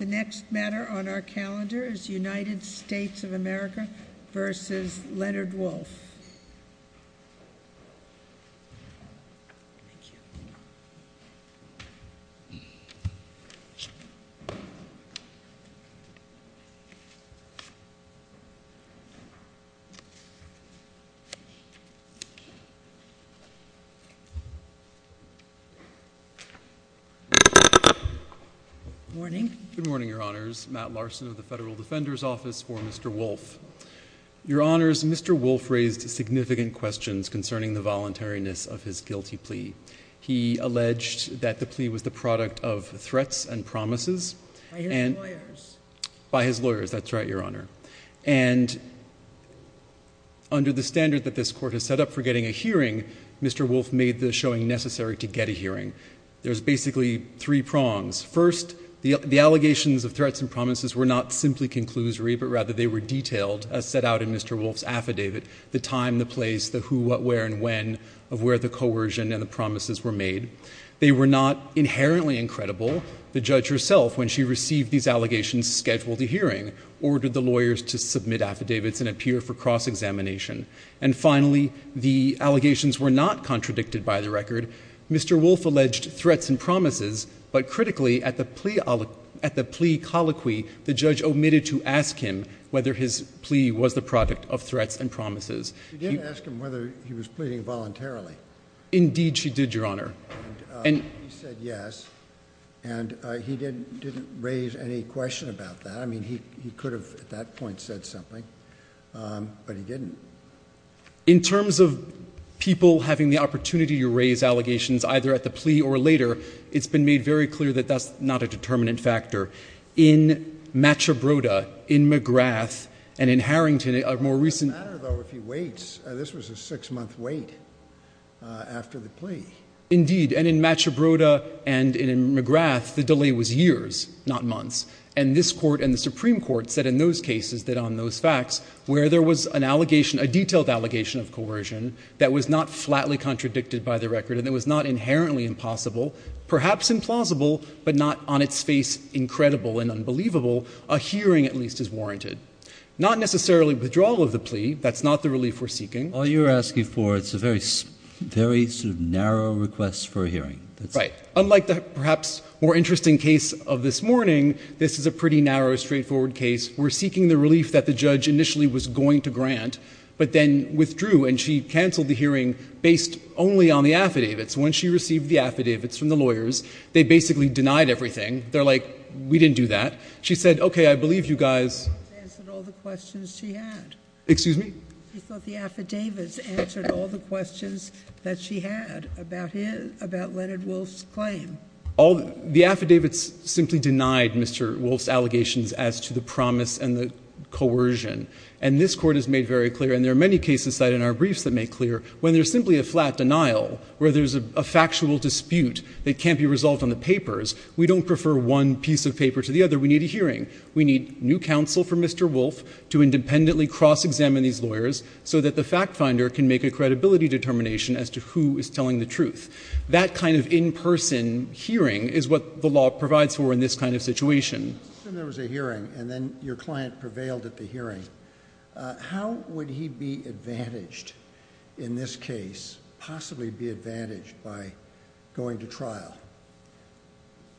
The next matter on our calendar is United States of America v. Leonard Wolfe. Good morning, Your Honors, Matt Larson of the Federal Defender's Office for Mr. Wolfe. Your Honors, Mr. Wolfe raised significant questions concerning the voluntariness of his guilty plea. He alleged that the plea was the product of threats and promises. By his lawyers. By his lawyers, that's right, Your Honor. And under the standard that this Court has set up for getting a hearing, Mr. Wolfe made the showing necessary to get a hearing. There's basically three prongs. First, the allegations of threats and promises were not simply conclusory, but rather they were detailed as set out in Mr. Wolfe's affidavit. The time, the place, the who, what, where, and when of where the coercion and the promises were made. They were not inherently incredible. The judge herself, when she received these allegations, scheduled a hearing, ordered the lawyers to submit affidavits and appear for cross-examination. And finally, the allegations were not contradicted by the record. Mr. Wolfe alleged threats and promises, but critically, at the plea colloquy, the judge omitted to ask him whether his plea was the product of threats and promises. She didn't ask him whether he was pleading voluntarily. Indeed, she did, Your Honor. He said yes, and he didn't raise any question about that. I mean, he could have at that point said something, but he didn't. In terms of people having the opportunity to raise allegations, either at the plea or later, it's been made very clear that that's not a determinant factor. In Machabrota, in McGrath, and in Harrington, a more recent- It doesn't matter, though, if he waits. This was a six-month wait after the plea. Indeed, and in Machabrota and in McGrath, the delay was years, not months. And this Court and the Supreme Court said in those cases that on those facts, where there was an allegation, a detailed allegation of coercion, that was not flatly contradicted by the record, and it was not inherently impossible, perhaps implausible, but not on its face incredible and unbelievable, a hearing at least is warranted. Not necessarily withdrawal of the plea. That's not the relief we're seeking. All you're asking for is a very sort of narrow request for a hearing. Right. Unlike the perhaps more interesting case of this morning, this is a pretty narrow, straightforward case. We're seeking the relief that the judge initially was going to grant, but then withdrew, and she canceled the hearing based only on the affidavits. When she received the affidavits from the lawyers, they basically denied everything. They're like, we didn't do that. She said, okay, I believe you guys- She thought the affidavits answered all the questions she had. Excuse me? The affidavits simply denied Mr. Wolfe's allegations as to the promise and the coercion. And this Court has made very clear, and there are many cases cited in our briefs that make clear, when there's simply a flat denial, where there's a factual dispute that can't be resolved on the papers, we don't prefer one piece of paper to the other. We need a hearing. We need new counsel for Mr. Wolfe to independently cross-examine these lawyers so that the fact finder can make a credibility determination as to who is telling the truth. That kind of in-person hearing is what the law provides for in this kind of situation. Let's assume there was a hearing, and then your client prevailed at the hearing. How would he be advantaged in this case, possibly be advantaged by going to trial?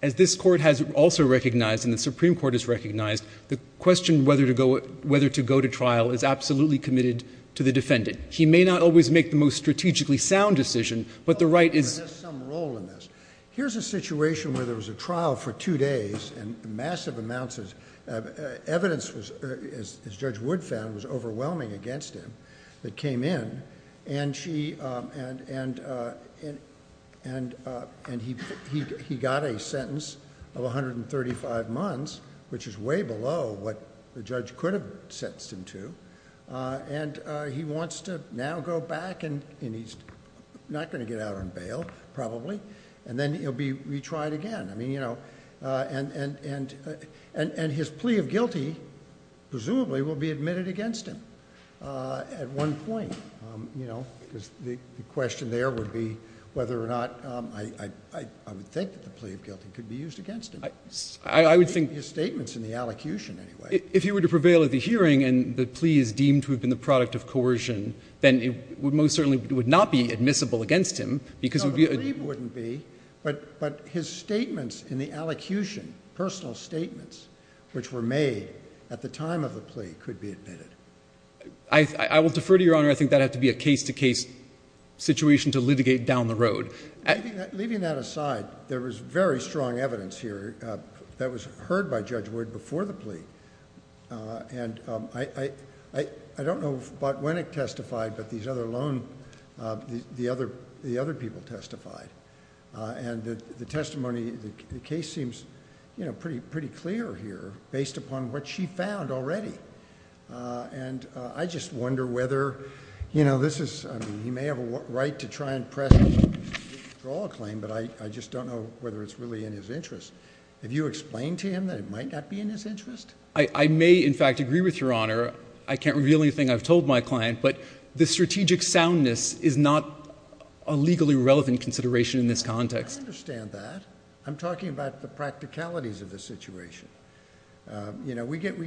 As this Court has also recognized, and the Supreme Court has recognized, the question whether to go to trial is absolutely committed to the defendant. He may not always make the most strategically sound decision, but the right is— There's some role in this. Here's a situation where there was a trial for two days, and massive amounts of evidence, as Judge Wood found, was overwhelming against him that came in. And he got a sentence of 135 months, which is way below what the judge could have sentenced him to. And he wants to now go back, and he's not going to get out on bail, probably. And then he'll be retried again. And his plea of guilty, presumably, will be admitted against him at one point, because the question there would be whether or not I would think that the plea of guilty could be used against him. I would think— His statement's in the allocution, anyway. If he were to prevail at the hearing, and the plea is deemed to have been the product of coercion, then it most certainly would not be admissible against him, because— No, the plea wouldn't be. But his statements in the allocution, personal statements, which were made at the time of the plea, could be admitted. I will defer to Your Honor. I think that'd have to be a case-to-case situation to litigate down the road. Leaving that aside, there was very strong evidence here that was heard by Judge Wood before the plea. And I don't know if Botwinick testified, but these other lone—the other people testified. And the testimony, the case seems pretty clear here, based upon what she found already. And I just wonder whether, you know, this is—I mean, he may have a right to try and press a withdrawal claim, but I just don't know whether it's really in his interest. Have you explained to him that it might not be in his interest? I may, in fact, agree with Your Honor. I can't reveal anything I've told my client, but the strategic soundness is not a legally relevant consideration in this context. I understand that. I'm talking about the practicalities of the situation. You know, we get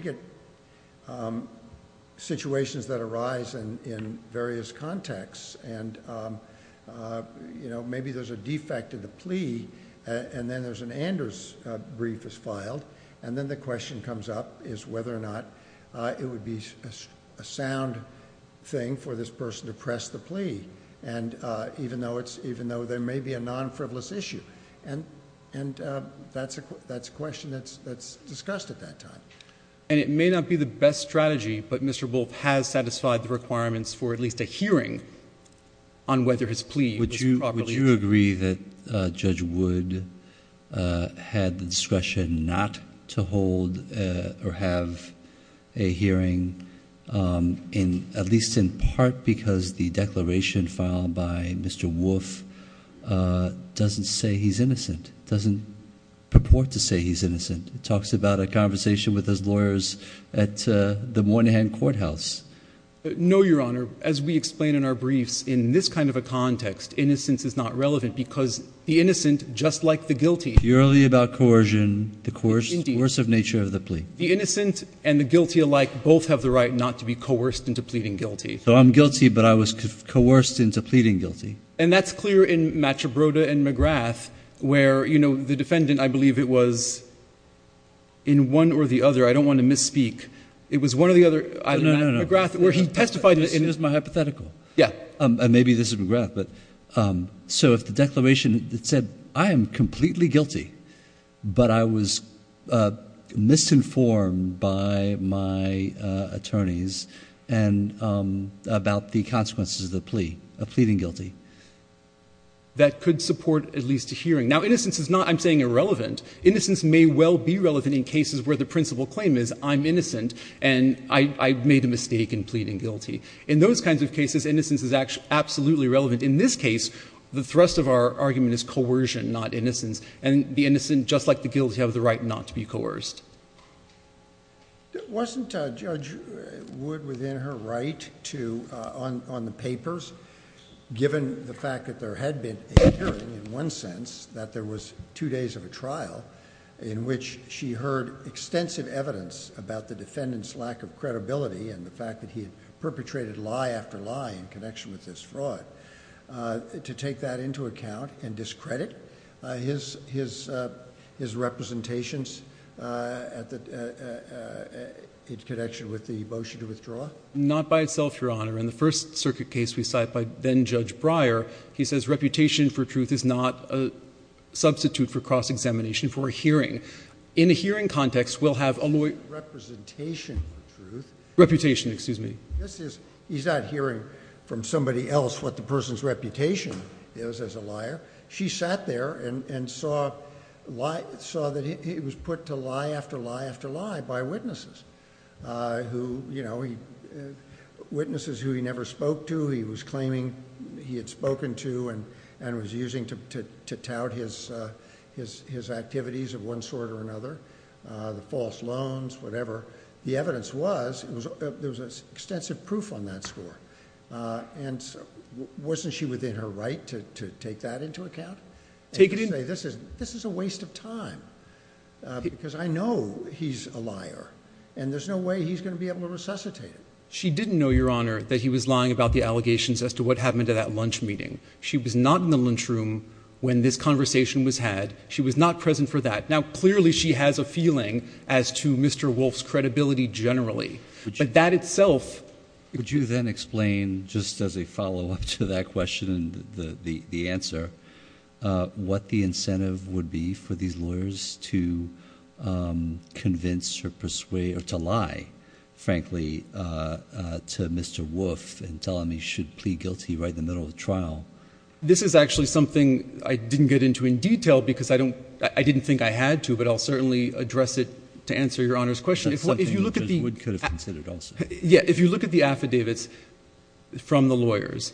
situations that arise in various contexts. And, you know, maybe there's a defect in the plea, and then there's an Anders brief that's filed, and then the question comes up is whether or not it would be a sound thing for this person to press the plea, even though there may be a non-frivolous issue. And that's a question that's discussed at that time. And it may not be the best strategy, but Mr. Wolf has satisfied the requirements for at least a hearing on whether his plea was properly— Would you agree that Judge Wood had the discretion not to hold or have a hearing, at least in part because the declaration filed by Mr. Wolf doesn't say he's innocent, doesn't purport to say he's innocent? It talks about a conversation with his lawyers at the Moynihan Courthouse. No, Your Honor. As we explain in our briefs, in this kind of a context, innocence is not relevant because the innocent, just like the guilty— Purely about coercion, the coercive nature of the plea. The innocent and the guilty alike both have the right not to be coerced into pleading guilty. So I'm guilty, but I was coerced into pleading guilty. And that's clear in Machibrota and McGrath, where, you know, the defendant, I believe it was in one or the other. I don't want to misspeak. It was one or the other. No, no, no. McGrath, where he testified— And here's my hypothetical. Yeah. And maybe this is McGrath, but so if the declaration said, I am completely guilty, but I was misinformed by my attorneys about the consequences of the plea, of pleading guilty. That could support at least a hearing. Now, innocence is not, I'm saying, irrelevant. Innocence may well be relevant in cases where the principal claim is I'm innocent and I made a mistake in pleading guilty. In those kinds of cases, innocence is absolutely relevant. In this case, the thrust of our argument is coercion, not innocence. And the innocent, just like the guilty, have the right not to be coerced. Wasn't Judge Wood within her right to, on the papers, given the fact that there had been a hearing, in one sense, that there was two days of a trial in which she heard extensive evidence about the defendant's lack of credibility and the fact that he had perpetrated lie after lie in connection with this fraud, to take that into account and discredit his representations in connection with the motion to withdraw? Not by itself, Your Honor. In the first circuit case we cite by then-Judge Breyer, he says reputation for truth is not a substitute for cross-examination for a hearing. In a hearing context, we'll have a lawyer— Representation for truth? Reputation, excuse me. He's not hearing from somebody else what the person's reputation is as a liar. She sat there and saw that he was put to lie after lie after lie by witnesses, witnesses who he never spoke to, he was claiming he had spoken to and was using to tout his activities of one sort or another, the false loans, whatever. The evidence was there was extensive proof on that score. And wasn't she within her right to take that into account? Take it into— And to say, this is a waste of time because I know he's a liar and there's no way he's going to be able to resuscitate it. She didn't know, Your Honor, that he was lying about the allegations as to what happened at that lunch meeting. She was not in the lunchroom when this conversation was had. She was not present for that. Now, clearly she has a feeling as to Mr. Wolf's credibility generally, but that itself— Just as a follow-up to that question and the answer, what the incentive would be for these lawyers to convince or persuade or to lie, frankly, to Mr. Wolf and tell him he should plead guilty right in the middle of the trial? This is actually something I didn't get into in detail because I didn't think I had to, but I'll certainly address it to answer Your Honor's question. That's something Judge Wood could have considered also. Yeah, if you look at the affidavits from the lawyers,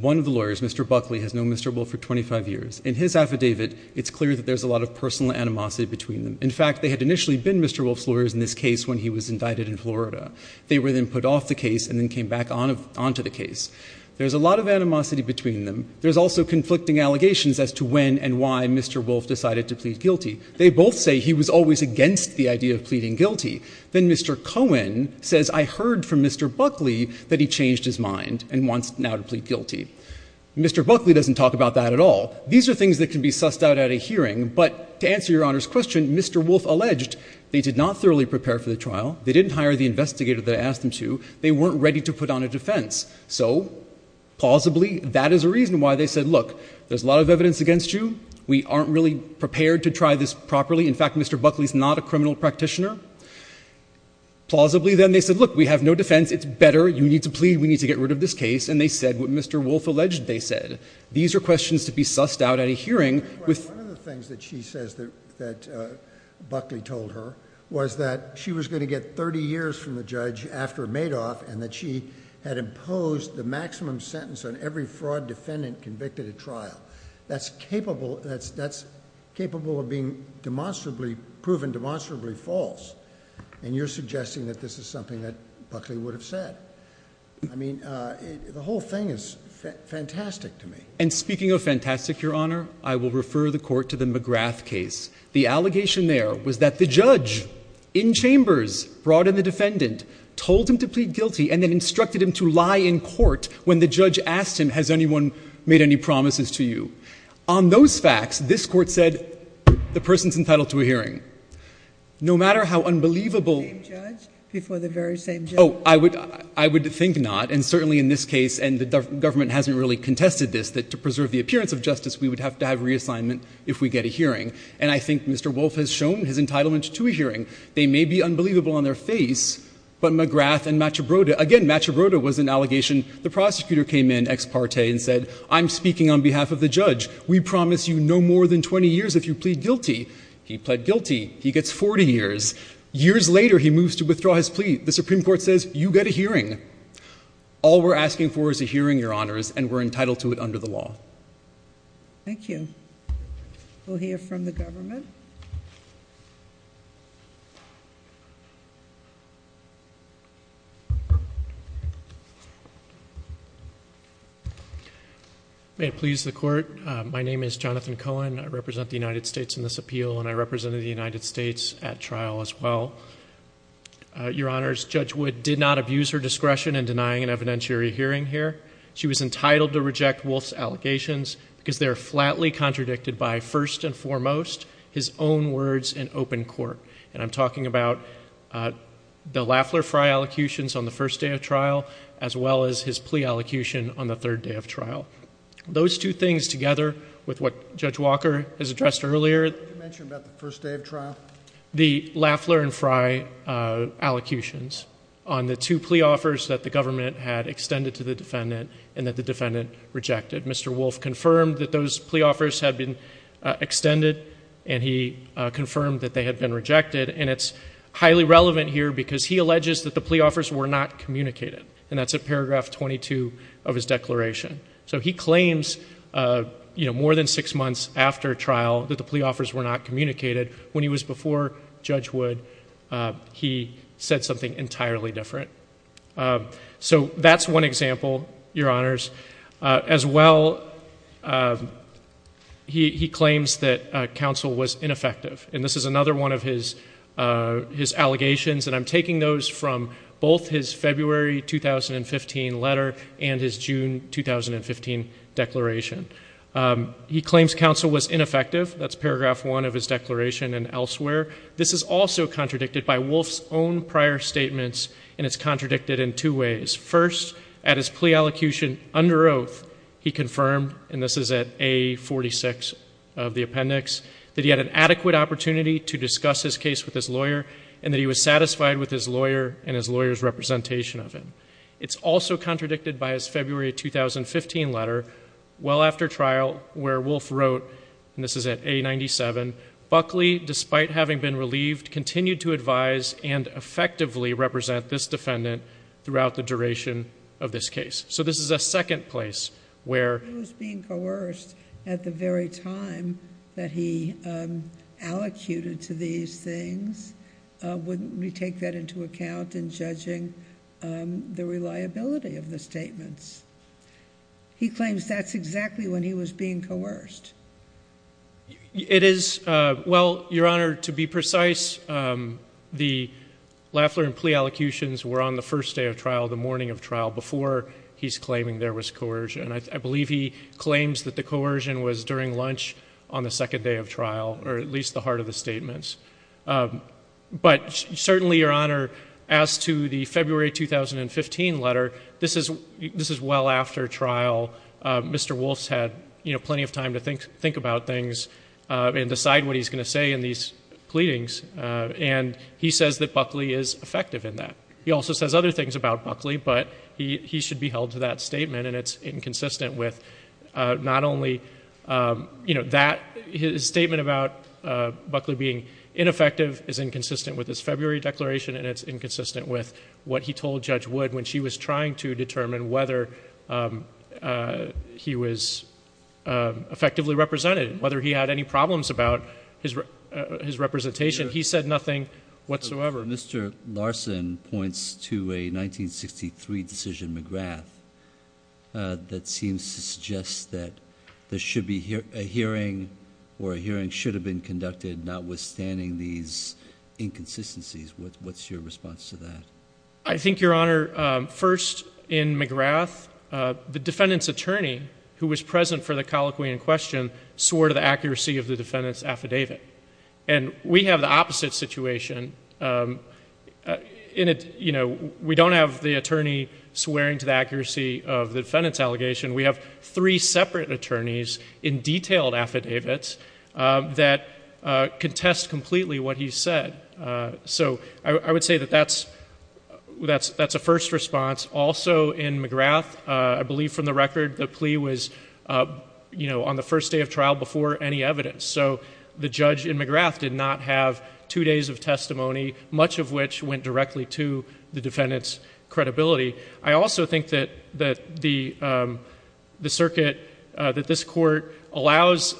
one of the lawyers, Mr. Buckley, has known Mr. Wolf for 25 years. In his affidavit, it's clear that there's a lot of personal animosity between them. In fact, they had initially been Mr. Wolf's lawyers in this case when he was indicted in Florida. They were then put off the case and then came back onto the case. There's a lot of animosity between them. There's also conflicting allegations as to when and why Mr. Wolf decided to plead guilty. They both say he was always against the idea of pleading guilty. Then Mr. Cohen says, I heard from Mr. Buckley that he changed his mind and wants now to plead guilty. Mr. Buckley doesn't talk about that at all. These are things that can be sussed out at a hearing, but to answer Your Honor's question, Mr. Wolf alleged they did not thoroughly prepare for the trial. They didn't hire the investigator that I asked them to. They weren't ready to put on a defense. So, plausibly, that is a reason why they said, Look, there's a lot of evidence against you. We aren't really prepared to try this properly. In fact, Mr. Buckley is not a criminal practitioner. Plausibly, then, they said, Look, we have no defense. It's better. You need to plead. We need to get rid of this case. And they said what Mr. Wolf alleged they said. These are questions to be sussed out at a hearing. One of the things that she says that Buckley told her was that she was going to get 30 years from the judge after Madoff and that she had imposed the maximum sentence on every fraud defendant convicted at trial. That's capable of being proven demonstrably false. And you're suggesting that this is something that Buckley would have said. I mean, the whole thing is fantastic to me. And speaking of fantastic, Your Honor, I will refer the court to the McGrath case. The allegation there was that the judge, in chambers, brought in the defendant, told him to plead guilty and then instructed him to lie in court when the judge asked him, Has anyone made any promises to you? On those facts, this court said, The person's entitled to a hearing. No matter how unbelievable... The same judge before the very same judge? Oh, I would think not. And certainly in this case, and the government hasn't really contested this, that to preserve the appearance of justice, we would have to have reassignment if we get a hearing. And I think Mr. Wolf has shown his entitlement to a hearing. They may be unbelievable on their face, but McGrath and Machabrota, again, Machabrota was an allegation. The prosecutor came in ex parte and said, I'm speaking on behalf of the judge. We promise you no more than 20 years if you plead guilty. He pled guilty. He gets 40 years. Years later, he moves to withdraw his plea. The Supreme Court says, You get a hearing. All we're asking for is a hearing, Your Honors, and we're entitled to it under the law. Thank you. We'll hear from the government. May it please the Court, my name is Jonathan Cohen. I represent the United States in this appeal, and I represented the United States at trial as well. Your Honors, Judge Wood did not abuse her discretion in denying an evidentiary hearing here. She was entitled to reject Wolf's allegations because they are flatly contradicted by, first and foremost, his own words in open court. And I'm talking about the Lafler-Frey allocutions on the first day of trial as well as his plea allocation on the third day of trial. Those two things together with what Judge Walker has addressed earlier. Did you mention about the first day of trial? The Lafler and Frey allocutions on the two plea offers that the government had extended to the defendant and that the defendant rejected. Mr. Wolf confirmed that those plea offers had been extended, and he confirmed that they had been rejected. And it's highly relevant here because he alleges that the plea offers were not communicated, and that's at paragraph 22 of his declaration. So he claims more than six months after trial that the plea offers were not communicated. When he was before Judge Wood, he said something entirely different. So that's one example, Your Honors. As well, he claims that counsel was ineffective, and this is another one of his allegations, and I'm taking those from both his February 2015 letter and his June 2015 declaration. He claims counsel was ineffective. That's paragraph 1 of his declaration and elsewhere. This is also contradicted by Wolf's own prior statements, and it's contradicted in two ways. First, at his plea allocution under oath, he confirmed, and this is at A46 of the appendix, that he had an adequate opportunity to discuss his case with his lawyer and that he was satisfied with his lawyer and his lawyer's representation of him. It's also contradicted by his February 2015 letter well after trial where Wolf wrote, and this is at A97, Buckley, despite having been relieved, continued to advise and effectively represent this defendant throughout the duration of this case. So this is a second place where... If he was being coerced at the very time that he allocated to these things, wouldn't we take that into account in judging the reliability of the statements? He claims that's exactly when he was being coerced. It is. Well, Your Honor, to be precise, the Lafler and plea allocutions were on the first day of trial, the morning of trial, before he's claiming there was coercion. I believe he claims that the coercion was during lunch on the second day of trial or at least the heart of the statements. But certainly, Your Honor, as to the February 2015 letter, this is well after trial. Mr. Wolf's had plenty of time to think about things and decide what he's going to say in these pleadings, and he says that Buckley is effective in that. He also says other things about Buckley, but he should be held to that statement, and it's inconsistent with not only that. His statement about Buckley being ineffective is inconsistent with his February declaration, and it's inconsistent with what he told Judge Wood when she was trying to determine whether he was effectively represented, whether he had any problems about his representation. He said nothing whatsoever. Mr. Larson points to a 1963 decision, McGrath, that seems to suggest that there should be a hearing or a hearing should have been conducted, notwithstanding these inconsistencies. What's your response to that? I think, Your Honor, first, in McGrath, of the defendant's affidavit, and we have the opposite situation. We don't have the attorney swearing to the accuracy of the defendant's allegation. We have three separate attorneys in detailed affidavits that contest completely what he said. So I would say that that's a first response. Also in McGrath, I believe from the record, the plea was on the first day of trial before any evidence. So the judge in McGrath did not have two days of testimony, much of which went directly to the defendant's credibility. I also think that the circuit, that this court allows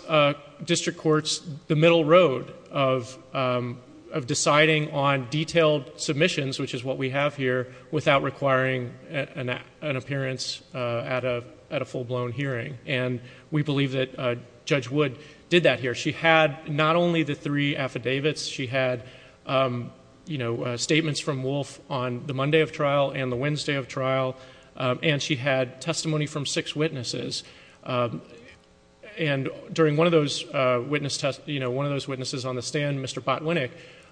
district courts the middle road of deciding on detailed submissions, which is what we have here, without requiring an appearance at a full-blown hearing. And we believe that Judge Wood did that here. She had not only the three affidavits. She had statements from Wolf on the Monday of trial and the Wednesday of trial, and she had testimony from six witnesses. And during one of those witnesses on the stand, Mr.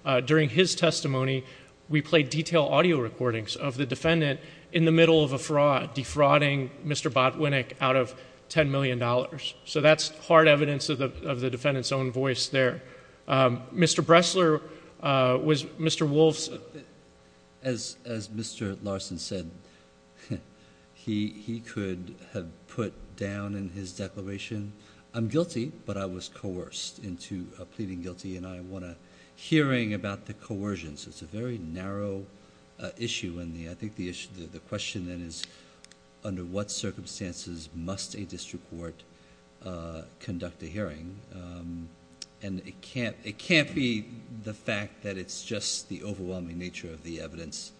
Botwinick, during his testimony, we played detailed audio recordings of the defendant in the middle of a fraud, defrauding Mr. Botwinick out of $10 million. So that's hard evidence of the defendant's own voice there. Mr. Bressler was... Mr. Wolf's... As Mr. Larson said, he could have put down in his declaration, I'm guilty, but I was coerced into pleading guilty, and I want a hearing about the coercion. So it's a very narrow issue, and I think the question then is, under what circumstances must a district court conduct a hearing? And it can't be the fact that it's just the overwhelming nature of the evidence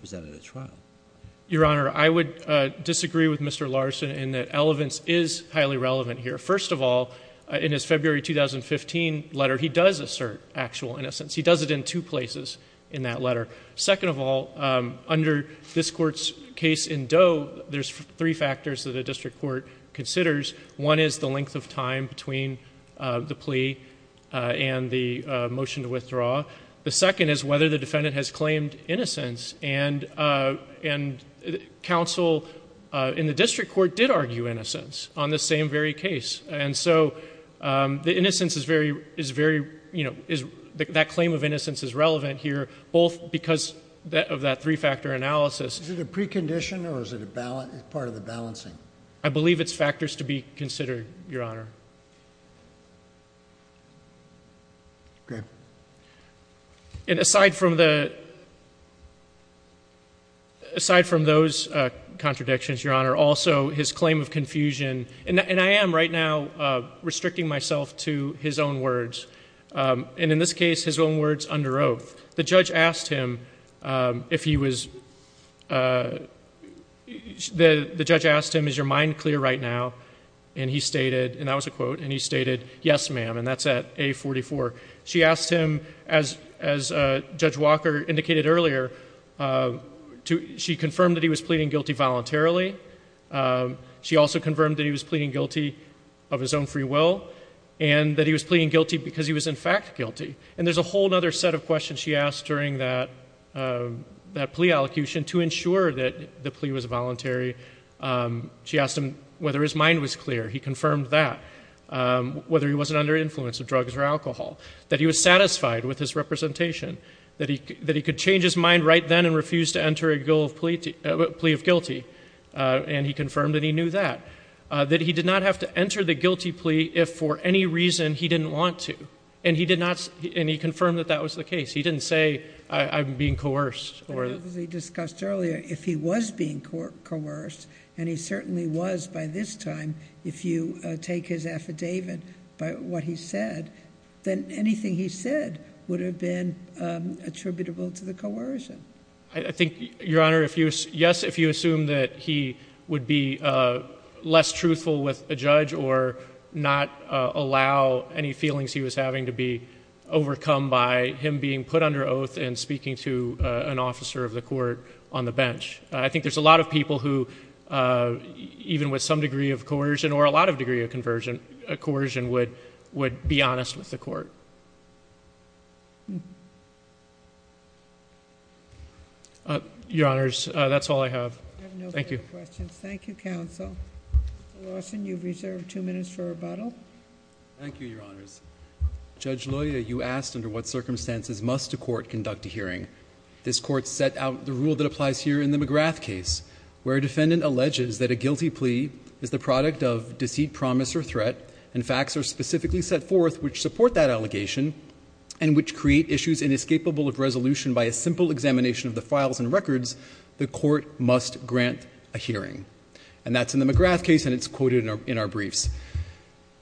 presented at trial. Your Honor, I would disagree with Mr. Larson in that First of all, in his February 2015 letter, he does assert actual innocence. He does it in two places in that letter. Second of all, under this Court's case in Doe, there's three factors that a district court considers. One is the length of time between the plea and the motion to withdraw. The second is whether the defendant has claimed innocence, and counsel in the district court did argue innocence on the same very case. And so the innocence is very... that claim of innocence is relevant here, both because of that three-factor analysis... Is it a precondition or is it part of the balancing? I believe it's factors to be considered, Your Honor. Okay. And aside from the... Aside from those contradictions, Your Honor, also his claim of confusion... And I am right now restricting myself to his own words. And in this case, his own words under oath. The judge asked him if he was... The judge asked him, is your mind clear right now? Yes, ma'am, and that's at A44. She asked him, as Judge Walker indicated earlier, she confirmed that he was pleading guilty voluntarily. She also confirmed that he was pleading guilty of his own free will, and that he was pleading guilty because he was in fact guilty. And there's a whole other set of questions she asked during that plea allocation to ensure that the plea was voluntary. She asked him whether his mind was clear. He confirmed that. Whether he wasn't under influence of drugs or alcohol. That he was satisfied with his representation. That he could change his mind right then and refuse to enter a plea of guilty. And he confirmed that he knew that. That he did not have to enter the guilty plea if for any reason he didn't want to. And he confirmed that that was the case. He didn't say, I'm being coerced. As we discussed earlier, if he was being coerced, and he certainly was by this time, if you take his affidavit by what he said, then anything he said would have been attributable to the coercion. I think, Your Honor, yes, if you assume that he would be less truthful with a judge or not allow any feelings he was having to be overcome by him being put under oath and speaking to an officer of the court on the bench. I think there's a lot of people who, even with some degree of coercion or a lot of degree of coercion, would be honest with the court. Your Honors, that's all I have. Thank you. I have no further questions. Thank you, Counsel. Mr. Lawson, you've reserved two minutes for rebuttal. Thank you, Your Honors. Judge Loya, you asked under what circumstances must a court conduct a hearing. This court set out the rule that applies here in the McGrath case, where a defendant alleges that a guilty plea is the product of deceit, promise, or threat, and facts are specifically set forth which support that allegation and which create issues inescapable of resolution by a simple examination of the files and records, the court must grant a hearing. And that's in the McGrath case, and it's quoted in our briefs.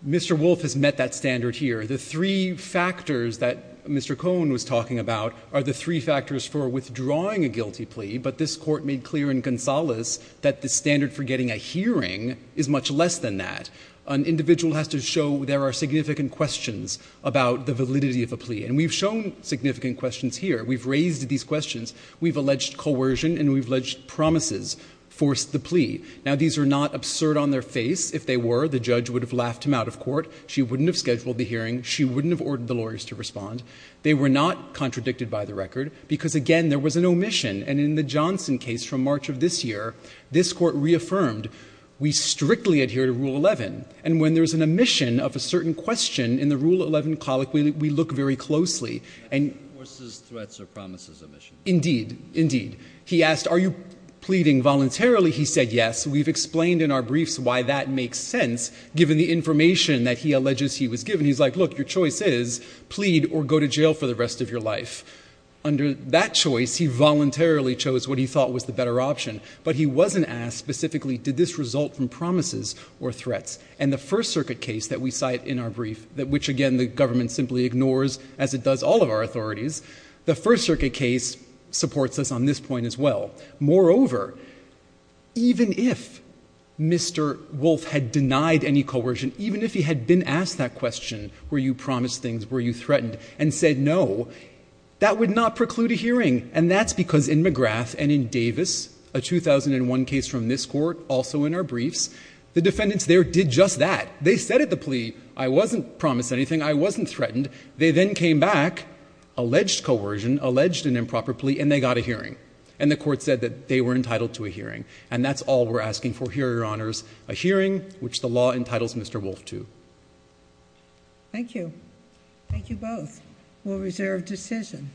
Mr. Wolfe has met that standard here. The three factors that Mr. Cohn was talking about are the three factors for withdrawing a guilty plea, but this court made clear in Gonzales that the standard for getting a hearing is much less than that. An individual has to show there are significant questions about the validity of a plea, and we've shown significant questions here. We've raised these questions. We've alleged coercion, and we've alleged promises forced the plea. Now, these are not absurd on their face. If they were, the judge would have laughed him out of court. She wouldn't have scheduled the hearing. She wouldn't have ordered the lawyers to respond. They were not contradicted by the record because, again, there was an omission, and in the Johnson case from March of this year, this court reaffirmed, we strictly adhere to Rule 11, and when there's an omission of a certain question in the Rule 11 colic, we look very closely. And he asked, are you pleading voluntarily? He said, yes. We've explained in our briefs why that makes sense given the information that he alleges he was given. He's like, look, your choice is plead or go to jail for the rest of your life. Under that choice, he voluntarily chose what he thought was the better option, but he wasn't asked specifically did this result from promises or threats. And the First Circuit case that we cite in our brief, which, again, the government simply ignores, as it does all of our authorities, the First Circuit case supports us on this point as well. Moreover, even if Mr. Wolf had denied any coercion, even if he had been asked that question, were you promised things, were you threatened, and said no, that would not preclude a hearing. And that's because in McGrath and in Davis, a 2001 case from this court, also in our briefs, the defendants there did just that. They said at the plea, I wasn't promised anything, I wasn't threatened. They then came back, alleged coercion, alleged an improper plea, and they got a hearing. And the court said that they were entitled to a hearing. And that's all we're asking for here, Your Honors, a hearing which the law entitles Mr. Wolf to. Thank you. Thank you both. We'll reserve decision.